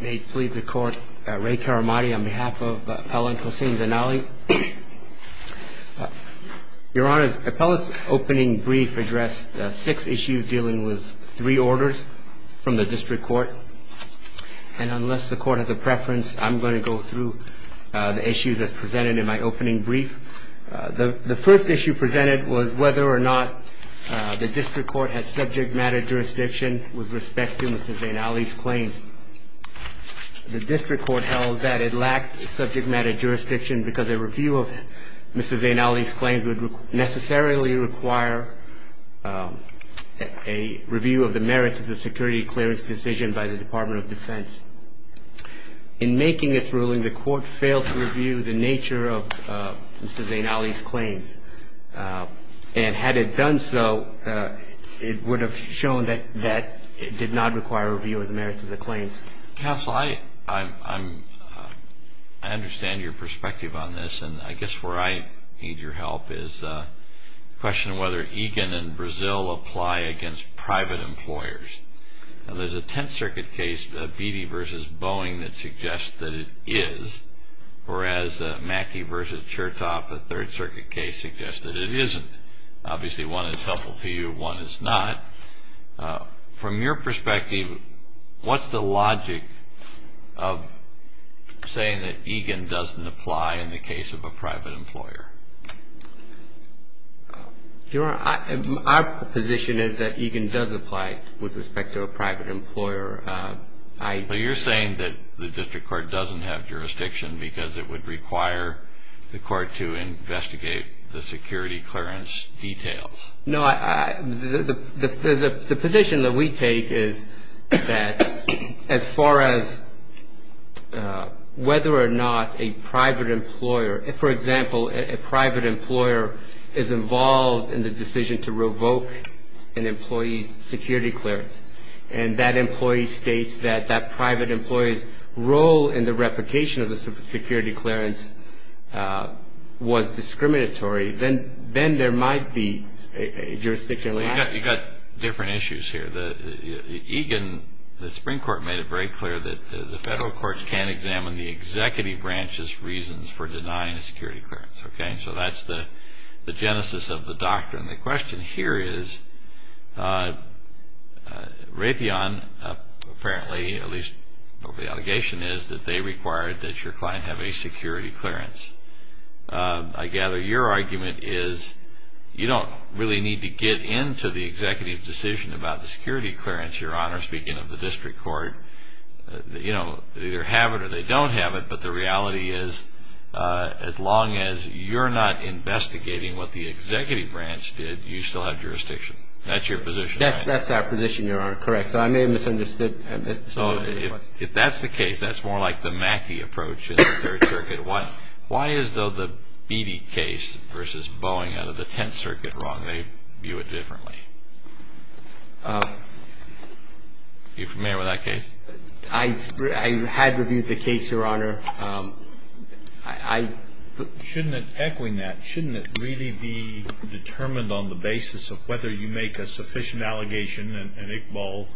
May it please the court, Ray Karamadi on behalf of Appellant Hossein Zeinali. Your Honor, Appellant's opening brief addressed six issues dealing with three orders from the district court. And unless the court has a preference, I'm going to go through the issues as presented in my opening brief. The first issue presented was whether or not the district court had subject matter jurisdiction with respect to Mr. Zeinali's claims. The district court held that it lacked subject matter jurisdiction because a review of Mr. Zeinali's claims would necessarily require a review of the merits of the security clearance decision by the Department of Defense. In making its ruling, the court failed to review the nature of Mr. Zeinali's claims. And had it done so, it would have shown that it did not require a review of the merits of the claims. Counsel, I understand your perspective on this, and I guess where I need your help is the question of whether EGAN and Brazil apply against private employers. Now, there's a Tenth Circuit case, Beattie v. Boeing, that suggests that it is, whereas Mackey v. Chertoff, a Third Circuit case, suggests that it isn't. Obviously, one is helpful to you, one is not. From your perspective, what's the logic of saying that EGAN doesn't apply in the case of a private employer? Your Honor, our position is that EGAN does apply with respect to a private employer. But you're saying that the district court doesn't have jurisdiction because it would require the court to investigate the security clearance details. No, the position that we take is that as far as whether or not a private employer, for example, a private employer is involved in the decision to revoke an employee's security clearance, and that employee states that that private employee's role in the replication of the security clearance was discriminatory, then there might be jurisdiction. You've got different issues here. EGAN, the Supreme Court made it very clear that the federal courts can't examine the executive branch's reasons for denying a security clearance. So that's the genesis of the doctrine. The question here is Raytheon, apparently, at least what the allegation is, that they required that your client have a security clearance. I gather your argument is you don't really need to get into the executive decision about the security clearance, Your Honor, speaking of the district court. You know, they either have it or they don't have it, but the reality is as long as you're not investigating what the executive branch did, you still have jurisdiction. That's your position. That's our position, Your Honor. Correct. So I may have misunderstood. So if that's the case, that's more like the Mackey approach in the Third Circuit. Why is, though, the Beattie case versus Boeing out of the Tenth Circuit wrong? They view it differently. Are you familiar with that case? I had reviewed the case, Your Honor. Shouldn't it, echoing that, shouldn't it really be determined on the basis of whether you make a sufficient allegation, an Iqbal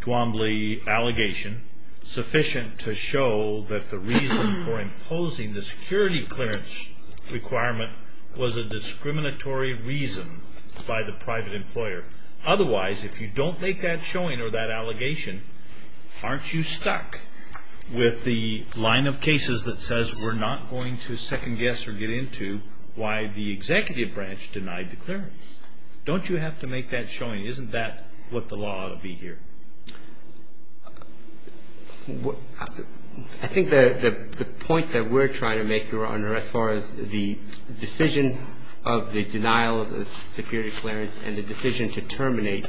Twombly allegation sufficient to show that the reason for imposing the security clearance requirement was a discriminatory reason by the private employer? Otherwise, if you don't make that showing or that allegation, aren't you stuck with the line of cases that says we're not going to second guess or get into why the executive branch denied the clearance? Don't you have to make that showing? Isn't that what the law ought to be here? I think the point that we're trying to make, Your Honor, as far as the decision of the denial of the security clearance and the decision to terminate,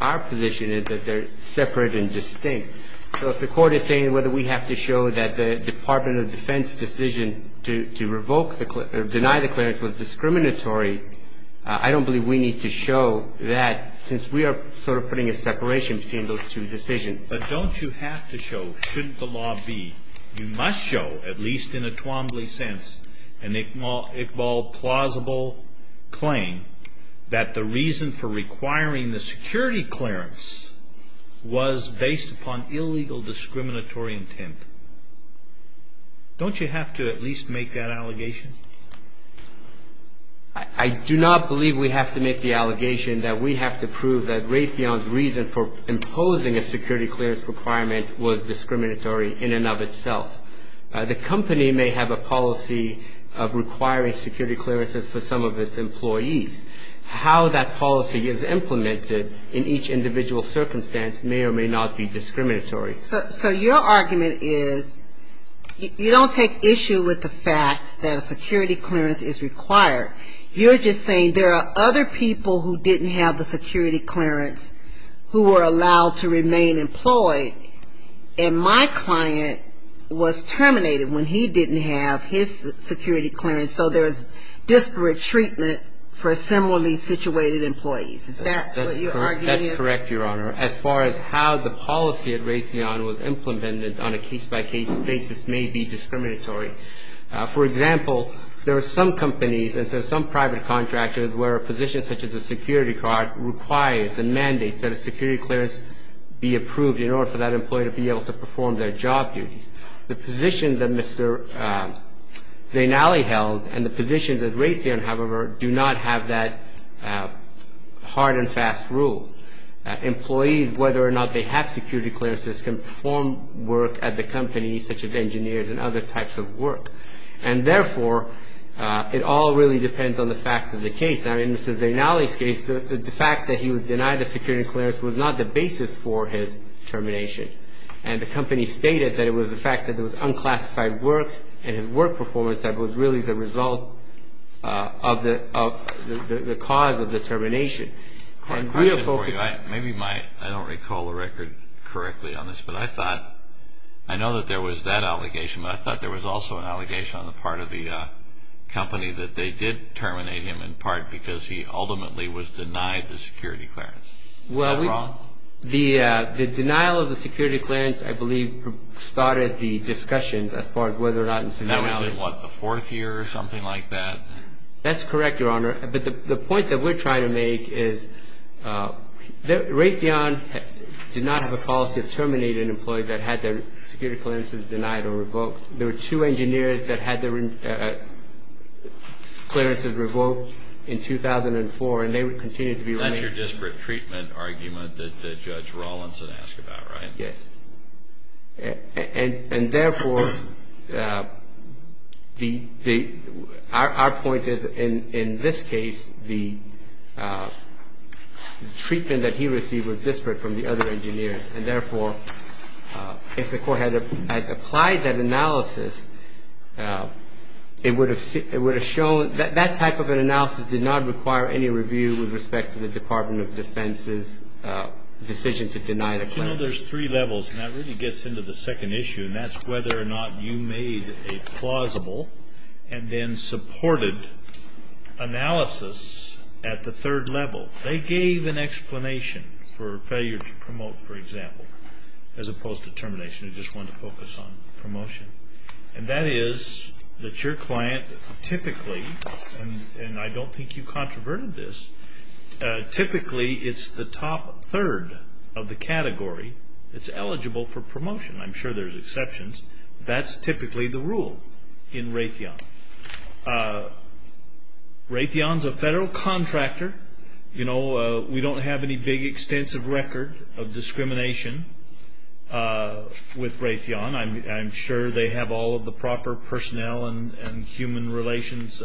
our position is that they're separate and distinct. So if the Court is saying whether we have to show that the Department of Defense decision to revoke the or deny the clearance was discriminatory, I don't believe we need to show that, since we are sort of putting a separation between those two decisions. But don't you have to show, shouldn't the law be, you must show, at least in a Twombly sense, an Iqbal plausible claim that the reason for requiring the security clearance was based upon illegal discriminatory intent? Don't you have to at least make that allegation? I do not believe we have to make the allegation that we have to prove that Raytheon's reason for imposing a security clearance requirement was discriminatory in and of itself. The company may have a policy of requiring security clearances for some of its employees. How that policy is implemented in each individual circumstance may or may not be discriminatory. So your argument is you don't take issue with the fact that a security clearance is required. You're just saying there are other people who didn't have the security clearance who were allowed to remain employed, and my client was terminated when he didn't have his security clearance. So there's disparate treatment for similarly situated employees. Is that what you're arguing here? That's correct, Your Honor. As far as how the policy at Raytheon was implemented on a case-by-case basis may be discriminatory. For example, there are some companies and some private contractors where a position such as a security card requires and mandates that a security clearance be approved in order for that employee to be able to perform their job duties. The position that Mr. Zainali held and the positions at Raytheon, however, do not have that hard and fast rule. Employees, whether or not they have security clearances, can perform work at the company, such as engineers and other types of work. And therefore, it all really depends on the fact of the case. In Mr. Zainali's case, the fact that he was denied a security clearance was not the basis for his termination. And the company stated that it was the fact that there was unclassified work and his work performance that was really the result of the cause of the termination. I have a question for you. I don't recall the record correctly on this, but I know that there was that allegation, but I thought there was also an allegation on the part of the company that they did terminate him in part because he ultimately was denied the security clearance. Well, the denial of the security clearance, I believe, started the discussion as far as whether or not Mr. Zainali That was in, what, the fourth year or something like that? That's correct, Your Honor. But the point that we're trying to make is that Raytheon did not have a policy of terminating an employee that had their security clearances denied or revoked. There were two engineers that had their clearances revoked in 2004, and they would continue to be... That's your disparate treatment argument that Judge Rawlinson asked about, right? Yes. And therefore, our point is, in this case, the treatment that he received was disparate from the other engineers, and therefore, if the Court had applied that analysis, it would have shown that that type of an analysis did not require any review with respect to the Department of Defense's decision to deny the claim. But, you know, there's three levels, and that really gets into the second issue, and that's whether or not you made a plausible and then supported analysis at the third level. So they gave an explanation for failure to promote, for example, as opposed to termination. They just wanted to focus on promotion. And that is that your client typically, and I don't think you controverted this, typically it's the top third of the category that's eligible for promotion. I'm sure there's exceptions. That's typically the rule in Raytheon. Raytheon's a federal contractor. You know, we don't have any big extensive record of discrimination with Raytheon. I'm sure they have all of the proper personnel and human relations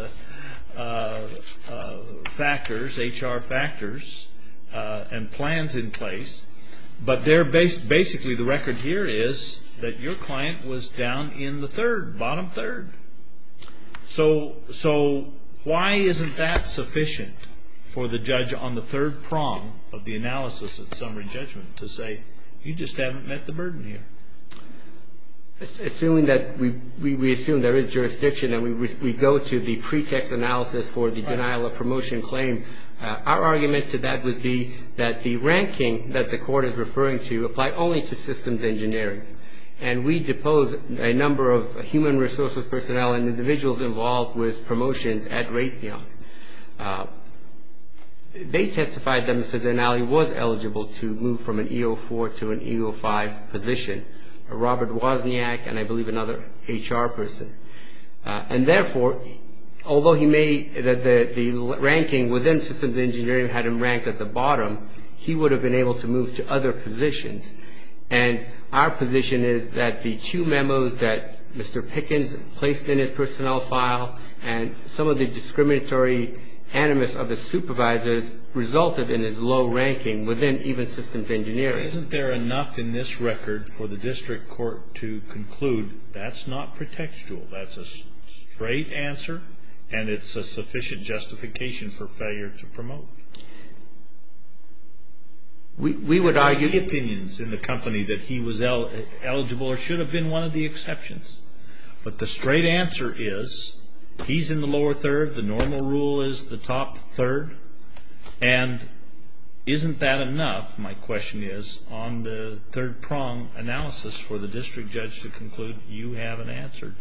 factors, HR factors, and plans in place. But basically the record here is that your client was down in the third, bottom third. So why isn't that sufficient for the judge on the third prong of the analysis at summary judgment to say, you just haven't met the burden here? Assuming that we assume there is jurisdiction and we go to the pretext analysis for the denial of promotion claim, our argument to that would be that the ranking that the court is referring to apply only to systems engineering. And we depose a number of human resources personnel and individuals involved with promotions at Raytheon. They testified that Mr. Denali was eligible to move from an E04 to an E05 position, Robert Wozniak and I believe another HR person. And therefore, although he made the ranking within systems engineering had him ranked at the bottom, he would have been able to move to other positions. And our position is that the two memos that Mr. Pickens placed in his personnel file and some of the discriminatory animus of the supervisors resulted in his low ranking within even systems engineering. Isn't there enough in this record for the district court to conclude that's not pretextual, that's a straight answer and it's a sufficient justification for failure to promote? We would argue the opinions in the company that he was eligible or should have been one of the exceptions. But the straight answer is he's in the lower third, the normal rule is the top third. And isn't that enough, my question is, on the third prong analysis for the district judge to conclude you haven't answered?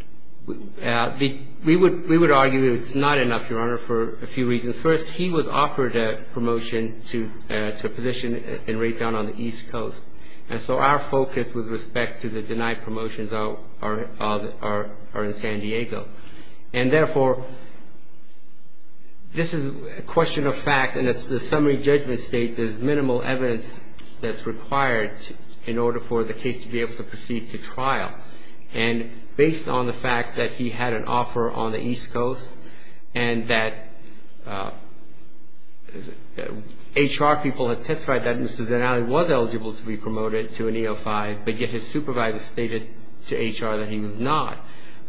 We would argue it's not enough, Your Honor, for a few reasons. First, he was offered a promotion to a position in Raytheon on the East Coast. And so our focus with respect to the denied promotions are in San Diego. And therefore, this is a question of fact and it's the summary judgment state, there's minimal evidence that's required in order for the case to be able to proceed to trial. And based on the fact that he had an offer on the East Coast and that HR people had testified that Mr. Zanelli was eligible to be promoted to an EO5, but yet his supervisor stated to HR that he was not.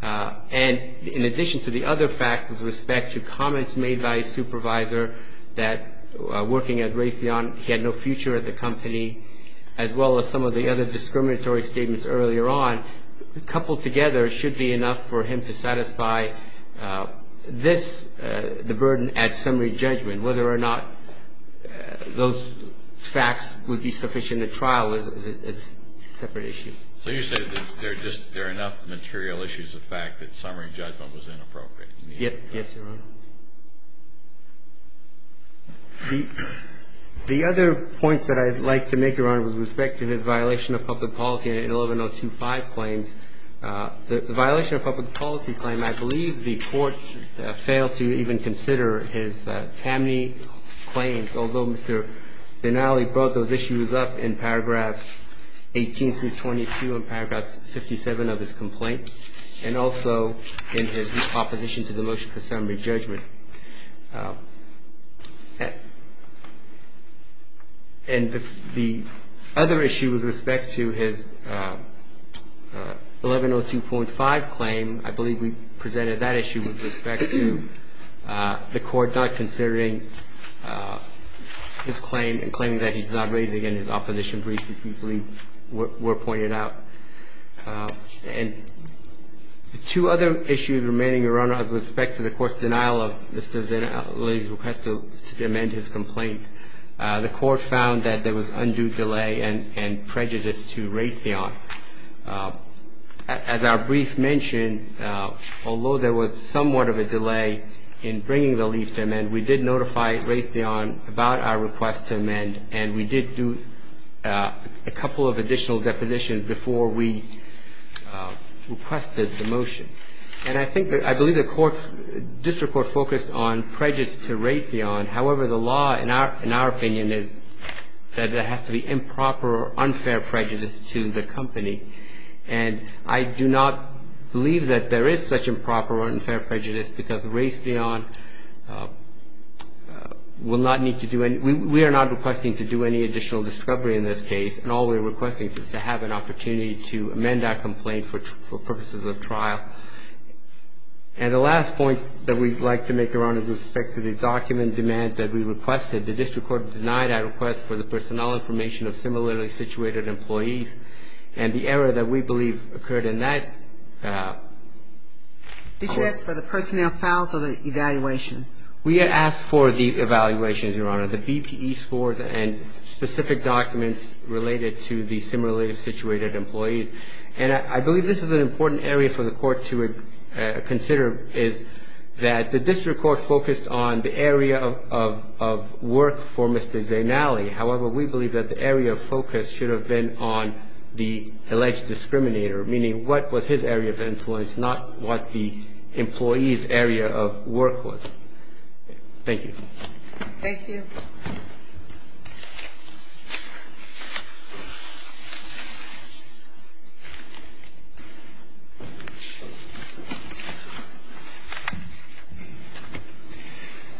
And in addition to the other fact with respect to comments made by his supervisor that working at Raytheon, he had no future at the company, as well as some of the other discriminatory statements earlier on, coupled together should be enough for him to satisfy this, the burden at summary judgment, whether or not those facts would be sufficient at trial is a separate issue. So you're saying that there are enough material issues of fact that summary judgment was inappropriate? Yes, Your Honor. The other points that I'd like to make, Your Honor, with respect to his violation of public policy in the 11-025 claims, the violation of public policy claim, I believe the Court failed to even consider his TAMNI claims, although Mr. Zanelli brought those issues up in paragraph 18-22 and paragraph 57 of his complaint and also in his opposition to the motion for summary judgment. And the other issue with respect to his 11-025 claim, I believe we presented that issue with respect to the Court not considering his claim and claiming that he did not raise it in his opposition brief, which we believe were pointed out. And the two other issues remaining, Your Honor, with respect to the court's denial of Mr. Zanelli's request to amend his complaint, the Court found that there was undue delay and prejudice to Raytheon. As our brief mentioned, although there was somewhat of a delay in bringing the leaf to amend, we did notify Raytheon about our request to amend, and we did do a couple of additional depositions before we requested the motion. And I think that I believe the court's district court focused on prejudice to Raytheon. However, the law, in our opinion, is that there has to be improper or unfair prejudice to the company. And I do not believe that there is such improper or unfair prejudice because Raytheon will not need to do any – we are not requesting to do any additional discovery in this case, and all we're requesting is to have an opportunity to amend our complaint for purposes of trial. And the last point that we'd like to make, Your Honor, with respect to the document demand that we requested, the district court denied our request for the personnel information of similarly situated employees. And the error that we believe occurred in that – Did you ask for the personnel files or the evaluations? We asked for the evaluations, Your Honor, the BPE scores and specific documents related to the similarly situated employees. And I believe this is an important area for the court to consider, is that the district court focused on the area of work for Mr. Zainali. However, we believe that the area of focus should have been on the alleged discriminator, meaning what was his area of influence, not what the employee's area of work was. Thank you. Thank you.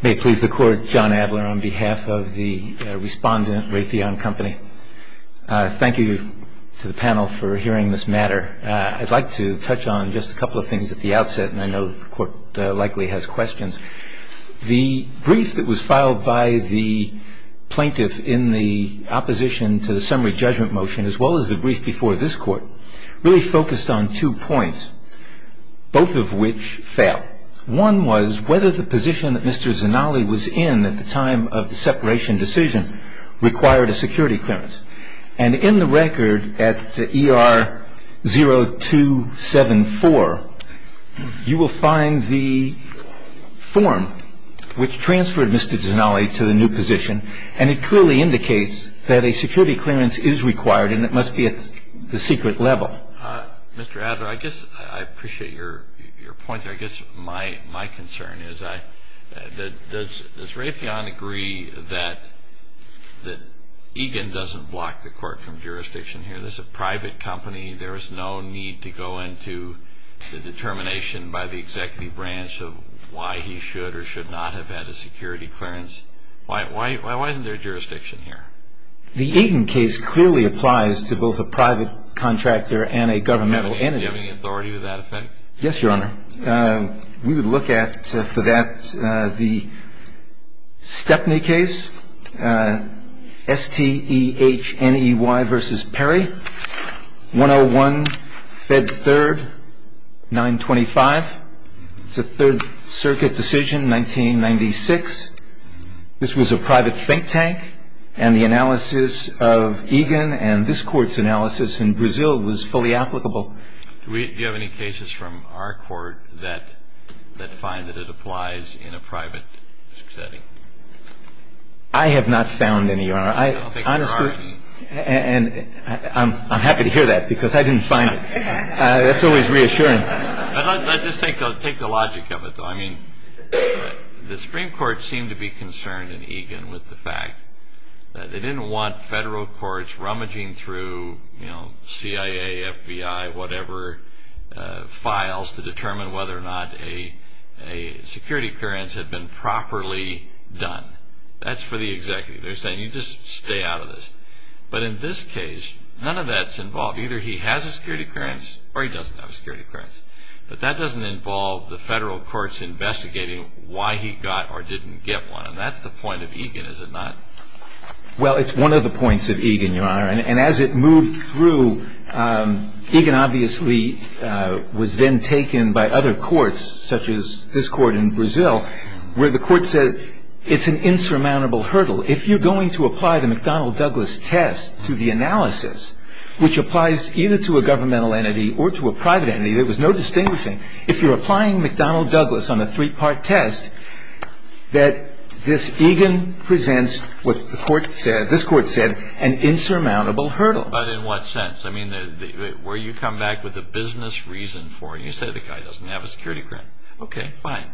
May it please the Court, John Adler, on behalf of the respondent Raytheon Company. Thank you to the panel for hearing this matter. I'd like to touch on just a couple of things at the outset, and I know the Court likely has questions. The brief that was filed by the plaintiff in the opposition to the summary judgment motion, as well as the brief before this Court, really focused on two points, both of which failed. One was whether the position that Mr. Zainali was in at the time of the separation decision required a security clearance. And in the record at ER 0274, you will find the form which transferred Mr. Zainali to the new position, and it clearly indicates that a security clearance is required and it must be at the secret level. Mr. Adler, I guess I appreciate your point there. I guess my concern is, does Raytheon agree that Egan doesn't block the Court from jurisdiction here? This is a private company. There is no need to go into the determination by the executive branch of why he should or should not have had a security clearance. Why isn't there jurisdiction here? The Egan case clearly applies to both a private contractor and a governmental entity. Are you giving authority to that effect? Yes, Your Honor. We would look at, for that, the Stepney case, S-T-E-H-N-E-Y v. Perry, 101, Fed 3rd, 925. It's a Third Circuit decision, 1996. This was a private think tank, and the analysis of Egan and this Court's analysis in Brazil was fully applicable. Do you have any cases from our Court that find that it applies in a private setting? I have not found any, Your Honor. I don't think there are any. And I'm happy to hear that, because I didn't find it. That's always reassuring. Let's just take the logic of it, though. I mean, the Supreme Court seemed to be concerned in Egan with the fact that they didn't want federal courts rummaging through CIA, FBI, whatever, files to determine whether or not a security clearance had been properly done. That's for the executive. They're saying, you just stay out of this. But in this case, none of that's involved. Either he has a security clearance or he doesn't have a security clearance. But that doesn't involve the federal courts investigating why he got or didn't get one. And that's the point of Egan, is it not? Well, it's one of the points of Egan, Your Honor. And as it moved through, Egan obviously was then taken by other courts, such as this Court in Brazil, where the Court said it's an insurmountable hurdle. If you're going to apply the McDonnell-Douglas test to the analysis, which applies either to a governmental entity or to a private entity, there was no distinguishing. If you're applying McDonnell-Douglas on a three-part test, that this Egan presents what this Court said, an insurmountable hurdle. But in what sense? I mean, where you come back with a business reason for it, and you say the guy doesn't have a security clearance. Okay, fine.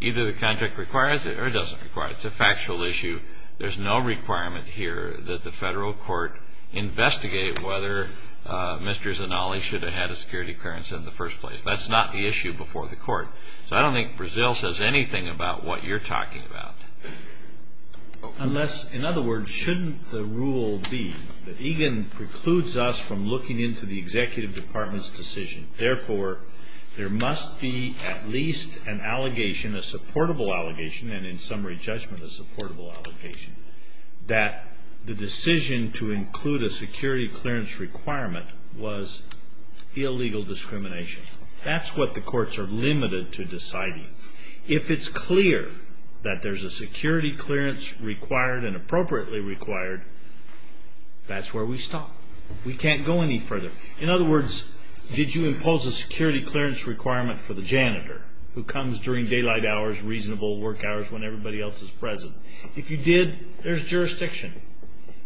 Either the contract requires it or it doesn't require it. It's a factual issue. There's no requirement here that the Federal Court investigate whether Mr. Zanolli should have had a security clearance in the first place. That's not the issue before the Court. So I don't think Brazil says anything about what you're talking about. Unless, in other words, shouldn't the rule be that Egan precludes us from looking into the Executive Department's decision. Therefore, there must be at least an allegation, a supportable allegation, and in summary judgment, a supportable allegation, that the decision to include a security clearance requirement was illegal discrimination. That's what the courts are limited to deciding. If it's clear that there's a security clearance required and appropriately required, that's where we stop. We can't go any further. In other words, did you impose a security clearance requirement for the janitor who comes during daylight hours, reasonable work hours when everybody else is present? If you did, there's jurisdiction.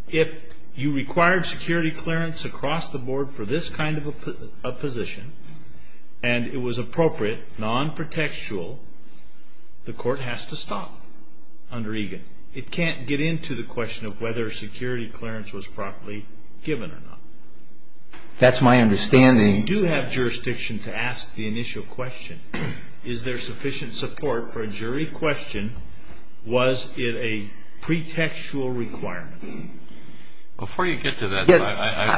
If you required security clearance across the board for this kind of a position and it was appropriate, non-protectual, the court has to stop under Egan. It can't get into the question of whether security clearance was properly given or not. That's my understanding. You do have jurisdiction to ask the initial question. Is there sufficient support for a jury question? Was it a pretextual requirement? Before you get to that,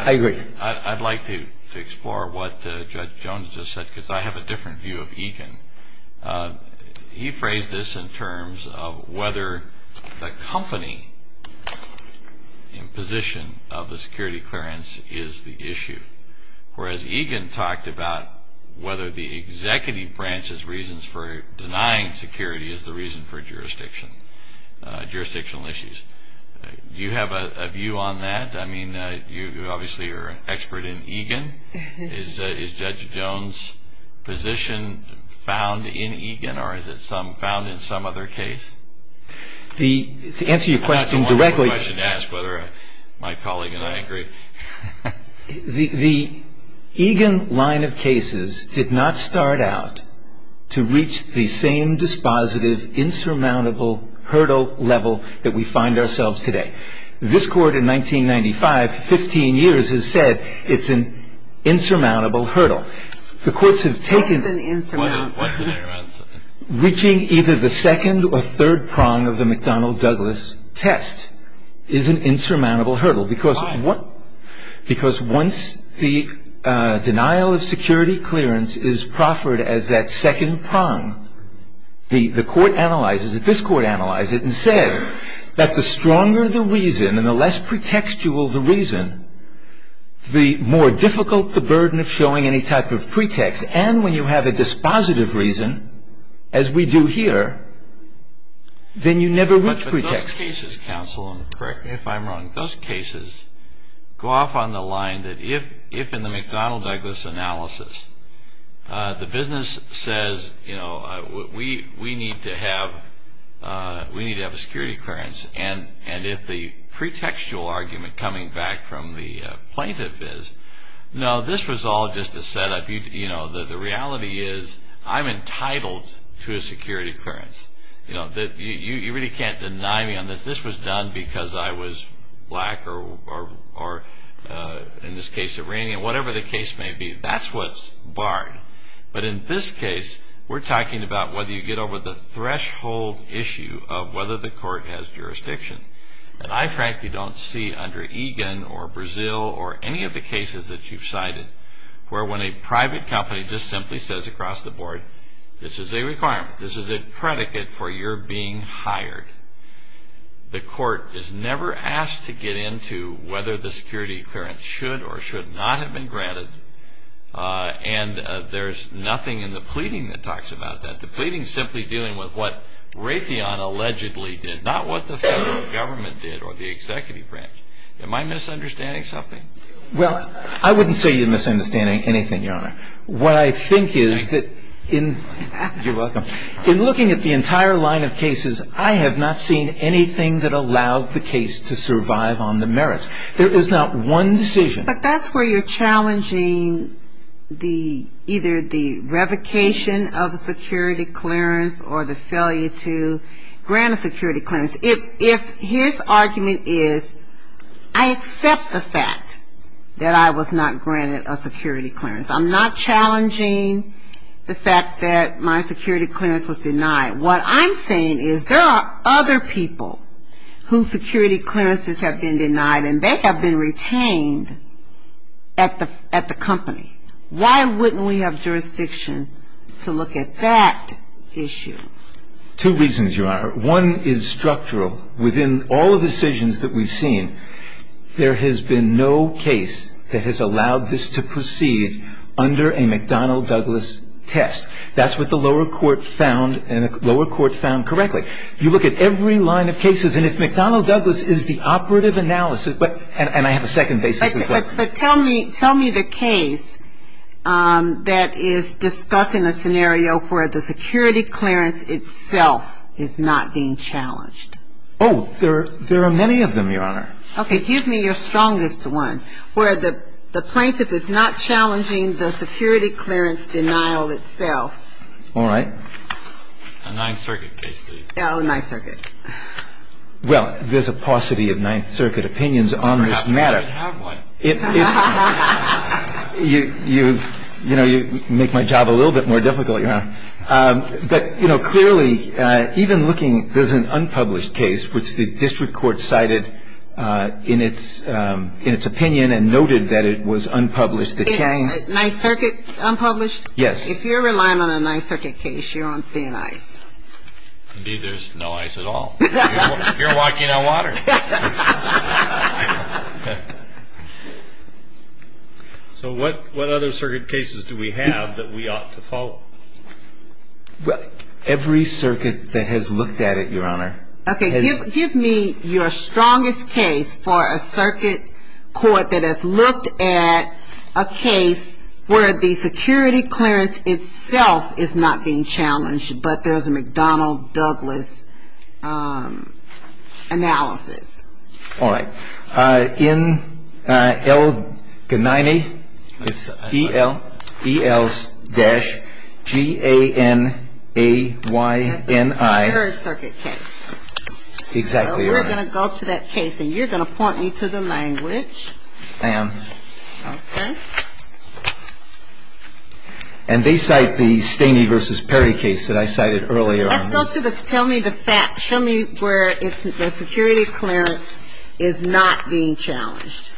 I'd like to explore what Judge Jones just said because I have a different view of Egan. He phrased this in terms of whether the company in position of the security clearance is the issue. Whereas Egan talked about whether the executive branch's reasons for denying security is the reason for jurisdiction, jurisdictional issues. Do you have a view on that? I mean, you obviously are an expert in Egan. Is Judge Jones' position found in Egan or is it found in some other case? To answer your question directly. That's a wonderful question to ask whether my colleague and I agree. The Egan line of cases did not start out to reach the same dispositive, insurmountable hurdle level that we find ourselves today. This Court in 1995 for 15 years has said it's an insurmountable hurdle. The courts have taken. What's an insurmountable hurdle? Reaching either the second or third prong of the McDonnell-Douglas test is an insurmountable hurdle. Why? Because once the denial of security clearance is proffered as that second prong, the Court analyzes it. This Court analyzed it and said that the stronger the reason and the less pretextual the reason, the more difficult the burden of showing any type of pretext. And when you have a dispositive reason, as we do here, then you never reach pretext. But those cases, counsel, if I'm wrong, those cases go off on the line that if in the McDonnell-Douglas analysis, the business says, you know, we need to have a security clearance. And if the pretextual argument coming back from the plaintiff is, no, this was all just a setup. You know, the reality is I'm entitled to a security clearance. You know, you really can't deny me on this. This was done because I was black or, in this case, Iranian, whatever the case may be. That's what's barred. But in this case, we're talking about whether you get over the threshold issue of whether the Court has jurisdiction. And I frankly don't see under Egan or Brazil or any of the cases that you've cited where when a private company just simply says across the board, this is a requirement. This is a predicate for your being hired. The Court is never asked to get into whether the security clearance should or should not have been granted. And there's nothing in the pleading that talks about that. The pleading is simply dealing with what Raytheon allegedly did, not what the federal government did or the executive branch. Am I misunderstanding something? Well, I wouldn't say you're misunderstanding anything, Your Honor. What I think is that in looking at the entire line of cases, I have not seen anything that allowed the case to survive on the merits. There is not one decision. But that's where you're challenging either the revocation of a security clearance or the failure to grant a security clearance. If his argument is I accept the fact that I was not granted a security clearance, I'm not challenging the fact that my security clearance was denied. What I'm saying is there are other people whose security clearances have been denied and they have been retained at the company. Why wouldn't we have jurisdiction to look at that issue? Two reasons, Your Honor. One is structural. Within all of the decisions that we've seen, there has been no case that has allowed this to proceed under a McDonnell-Douglas test. That's what the lower court found and the lower court found correctly. You look at every line of cases, and if McDonnell-Douglas is the operative analysis and I have a second basis as well. But tell me the case that is discussing a scenario where the security clearance itself is not being challenged. Oh, there are many of them, Your Honor. Okay. Give me your strongest one where the plaintiff is not challenging the security clearance denial itself. All right. A Ninth Circuit case, please. Oh, Ninth Circuit. Well, there's a paucity of Ninth Circuit opinions on this matter. I have one. You make my job a little bit more difficult, Your Honor. But clearly, even looking, there's an unpublished case, which the district court cited in its opinion and noted that it was unpublished. Ninth Circuit unpublished? Yes. If you're relying on a Ninth Circuit case, you're on thin ice. Indeed, there's no ice at all. You're walking on water. So what other circuit cases do we have that we ought to follow? Every circuit that has looked at it, Your Honor. Okay. Give me your strongest case for a circuit court that has looked at a case where the security clearance itself is not being challenged, but there's a McDonnell-Douglas analysis. All right. N.L. Gniney. It's E.L.-G-A-N-A-Y-N-I. That's a third circuit case. Exactly, Your Honor. So we're going to go to that case, and you're going to point me to the language. I am. Okay. And they cite the Staney v. Perry case that I cited earlier on. Let's go to the --"tell me the fact." Show me where it's the security clearance is not being challenged.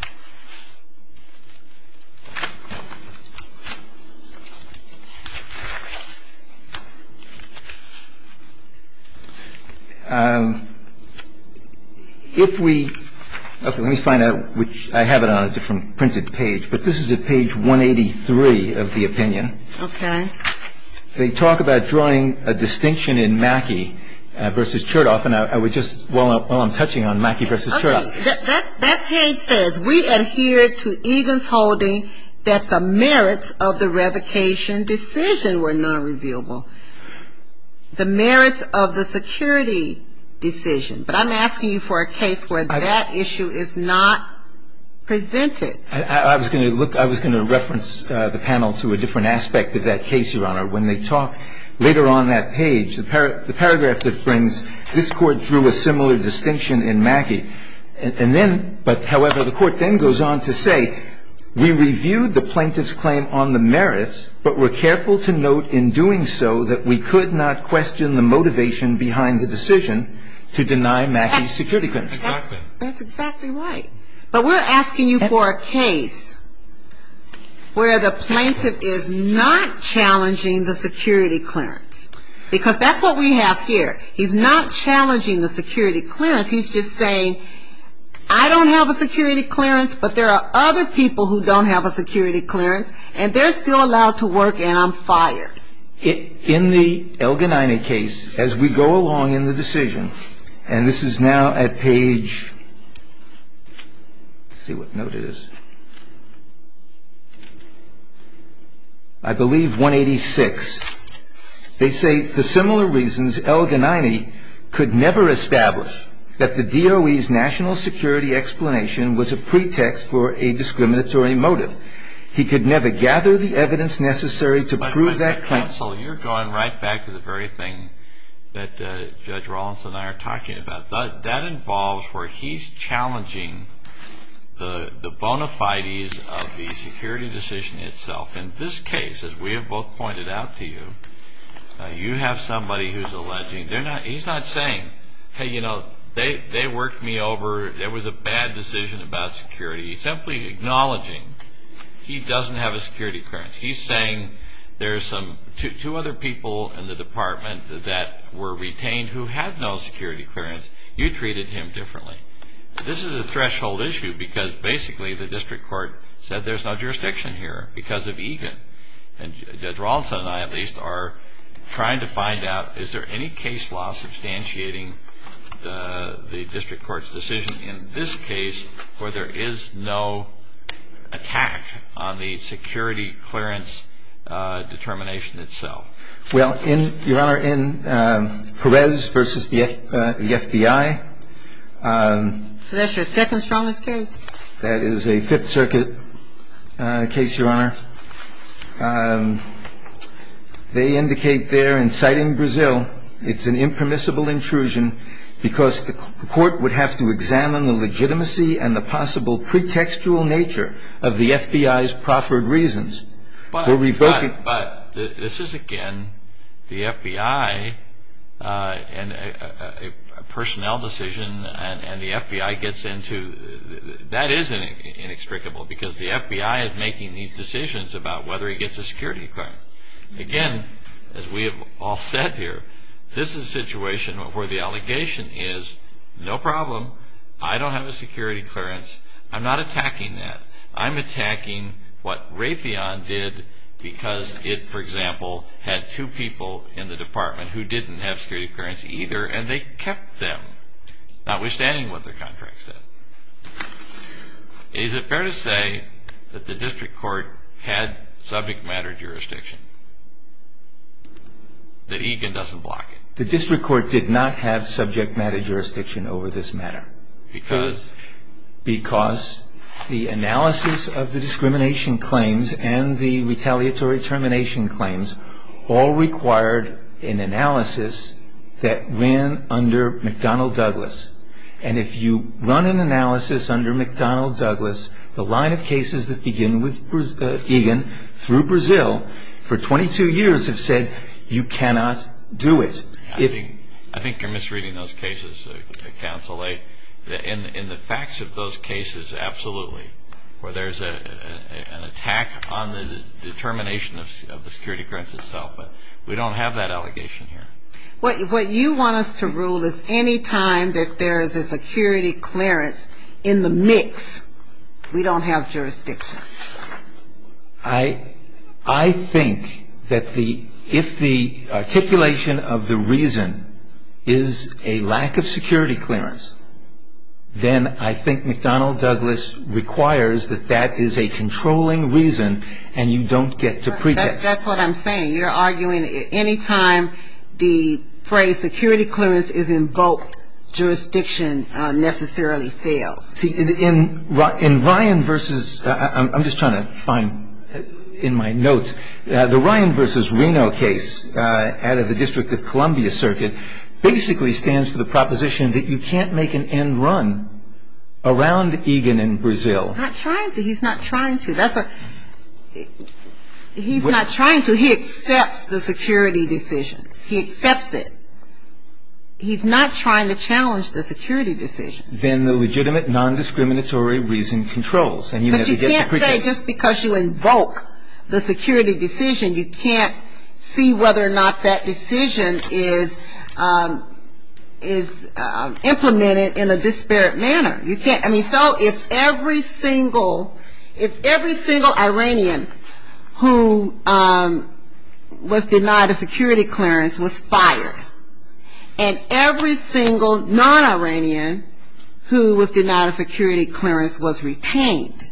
If we --" okay, let me find out which --" I have it on a different printed page, but this is at page 183 of the opinion. Okay. They talk about drawing a distinction in Mackey v. Chertoff, and I would just, while I'm touching on Mackey v. Chertoff. Okay. That page says, we adhere to Egan's holding that the merits of the revocation decision were not revealable. The merits of the security decision. But I'm asking you for a case where that issue is not presented. I was going to look, I was going to reference the panel to a different aspect of that case, Your Honor. When they talk later on that page, the paragraph that brings, this Court drew a similar distinction in Mackey. And then, but however, the Court then goes on to say, we reviewed the plaintiff's claim on the merits, but were careful to note in doing so that we could not question the motivation behind the decision to deny Mackey's security clearance. Exactly. That's exactly right. But we're asking you for a case where the plaintiff is not challenging the security clearance. Because that's what we have here. He's not challenging the security clearance. He's just saying, I don't have a security clearance, but there are other people who don't have a security clearance, and they're still allowed to work, and I'm fired. In the Elgin-Iny case, as we go along in the decision, and this is now at page, let's see what note it is, I believe 186, they say, for similar reasons Elgin-Iny could never establish that the DOE's national security explanation was a pretext for a discriminatory motive. He could never gather the evidence necessary to prove that claim. Counsel, you're going right back to the very thing that Judge Rollins and I are talking about. That involves where he's challenging the bona fides of the security decision itself. In this case, as we have both pointed out to you, you have somebody who's alleging, he's not saying, hey, you know, they worked me over, there was a bad decision about security. He's simply acknowledging he doesn't have a security clearance. He's saying there's two other people in the department that were retained who had no security clearance. You treated him differently. This is a threshold issue because basically the district court said there's no jurisdiction here because of Egan, and Judge Rollins and I at least are trying to find out is there any case law substantiating the district court's decision in this case where there is no attack on the security clearance determination itself? Well, Your Honor, in Perez v. the FBI. So that's your second strongest case? That is a Fifth Circuit case, Your Honor. They indicate there, inciting Brazil, it's an impermissible intrusion because the court would have to examine the FBI's proffered reasons for revoking. But this is, again, the FBI, a personnel decision and the FBI gets into, that is inextricable because the FBI is making these decisions about whether he gets a security clearance. Again, as we have all said here, this is a situation where the allegation is, no problem, I don't have a security clearance, I'm not attacking that. I'm attacking what Raytheon did because it, for example, had two people in the department who didn't have security clearance either and they kept them, notwithstanding what their contract said. Is it fair to say that the district court had subject matter jurisdiction? That Egan doesn't block it? The district court did not have subject matter jurisdiction over this matter. Because? Because the analysis of the discrimination claims and the retaliatory termination claims all required an analysis that ran under McDonnell Douglas. And if you run an analysis under McDonnell Douglas, the line of cases that begin with Egan through Brazil for 22 years have said, you cannot do it. I think you're misreading those cases, Counsel. In the facts of those cases, absolutely, where there's an attack on the determination of the security clearance itself, but we don't have that allegation here. What you want us to rule is any time that there is a security clearance in the mix, we don't have jurisdiction. I think that if the articulation of the reason is a lack of security clearance, then I think McDonnell Douglas requires that that is a controlling reason and you don't get to prejudge. That's what I'm saying. You're arguing any time the phrase security clearance is invoked, jurisdiction necessarily fails. See, in Ryan versus, I'm just trying to find in my notes, the Ryan versus Reno case out of the District of Columbia circuit basically stands for the proposition that you can't make an end run around Egan in Brazil. Not trying to. He's not trying to. He's not trying to. He accepts the security decision. He accepts it. He's not trying to challenge the security decision. He's not trying to challenge the legitimate non-discriminatory reason controls. But you can't say just because you invoke the security decision, you can't see whether or not that decision is implemented in a disparate manner. You can't. I mean, so if every single, if every single Iranian who was denied a security clearance was fired, and every single non-Iranian who was denied a security clearance was retained,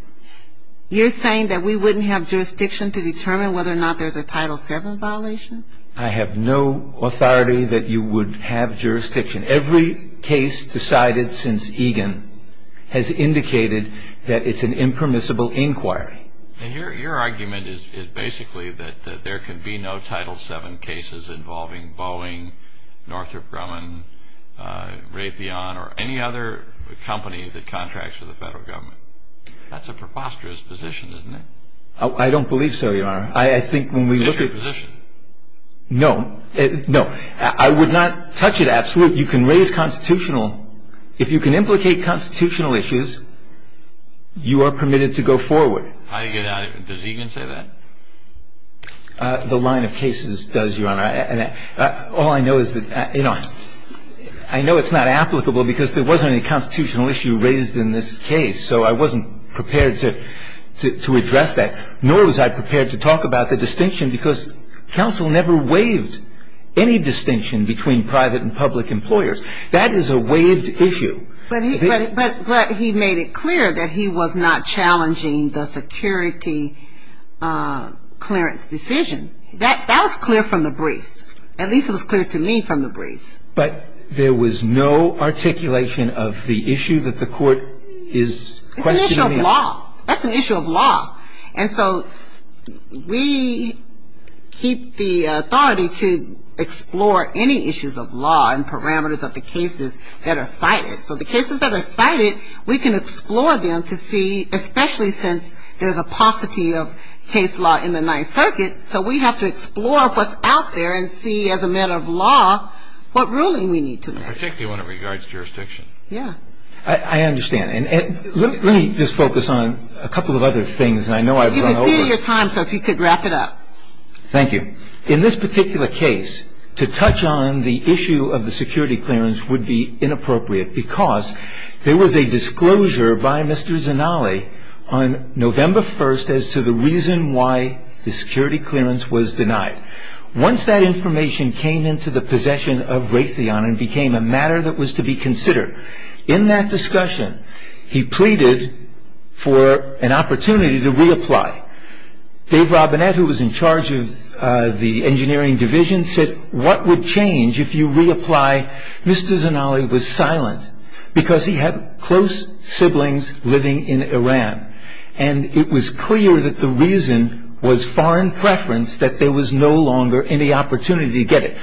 you're saying that we wouldn't have jurisdiction to determine whether or not there's a Title VII violation? I have no authority that you would have jurisdiction. Every case decided since Egan has indicated that it's an impermissible inquiry. And your argument is basically that there can be no Title VII cases involving Boeing, Northrop Grumman, Raytheon, or any other company that contracts with the federal government. That's a preposterous position, isn't it? I don't believe so, Your Honor. I think when we look at- It's your position. No. No. I would not touch it. Absolutely. You can raise constitutional. If you can implicate constitutional issues, you are permitted to go forward. How do you get out of it? Does Egan say that? The line of cases does, Your Honor. And all I know is that, you know, I know it's not applicable because there wasn't any constitutional issue raised in this case. So I wasn't prepared to address that, nor was I prepared to talk about the distinction because counsel never waived any distinction between private and public employers. That is a waived issue. But he made it clear that he was not challenging the security clearance decision. That was clear from the briefs. At least it was clear to me from the briefs. But there was no articulation of the issue that the court is questioning. It's an issue of law. That's an issue of law. And so we keep the authority to explore any issues of law and parameters of the cases that are cited. So the cases that are cited, we can explore them to see, especially since there's a paucity of case law in the Ninth Circuit. So we have to explore what's out there and see as a matter of law what ruling we need to make. Particularly when it regards jurisdiction. Yeah. I understand. And let me just focus on a couple of other things. And I know I've run over. You can see your time, so if you could wrap it up. Thank you. In this particular case, to touch on the issue of the security clearance would be inappropriate because there was a disclosure by Mr. Zanale on November 1st as to the reason why the security clearance was denied. Once that information came into the possession of Raytheon and became a matter that was to be considered, in that discussion he pleaded for an opportunity to reapply. Dave Robinette, who was in charge of the engineering division, said, what would change if you reapply? Mr. Zanale was silent because he had close siblings living in Iran. And it was clear that the reason was foreign preference, that there was no longer any opportunity to get it.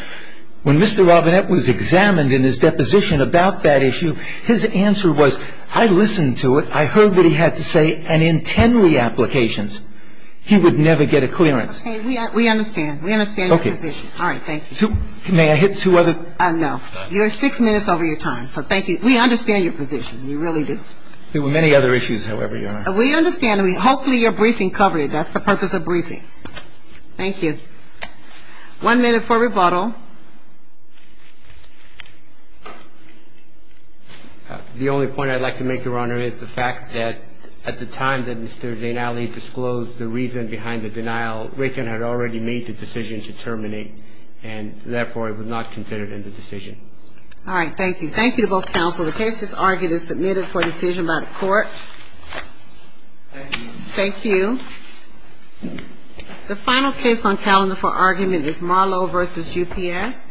When Mr. Robinette was examined in his deposition about that issue, his answer was, I listened to it. I heard what he had to say. And in 10 reapplications, he would never get a clearance. Okay. We understand. We understand your position. Okay. All right. Thank you. May I hit two other? No. You are six minutes over your time. So thank you. We understand your position. You really do. There were many other issues, however, Your Honor. We understand. Hopefully your briefing covered it. That's the purpose of briefing. Thank you. One minute for rebuttal. The only point I'd like to make, Your Honor, is the fact that at the time that Mr. Zanale disclosed the reason behind the denial, Raytheon had already made the decision to terminate. And, therefore, it was not considered in the decision. All right. Thank you. Thank you to both counsel. The case is argued and submitted for decision by the court. Thank you. Thank you. The final case on calendar for argument is Marlowe v. UPS.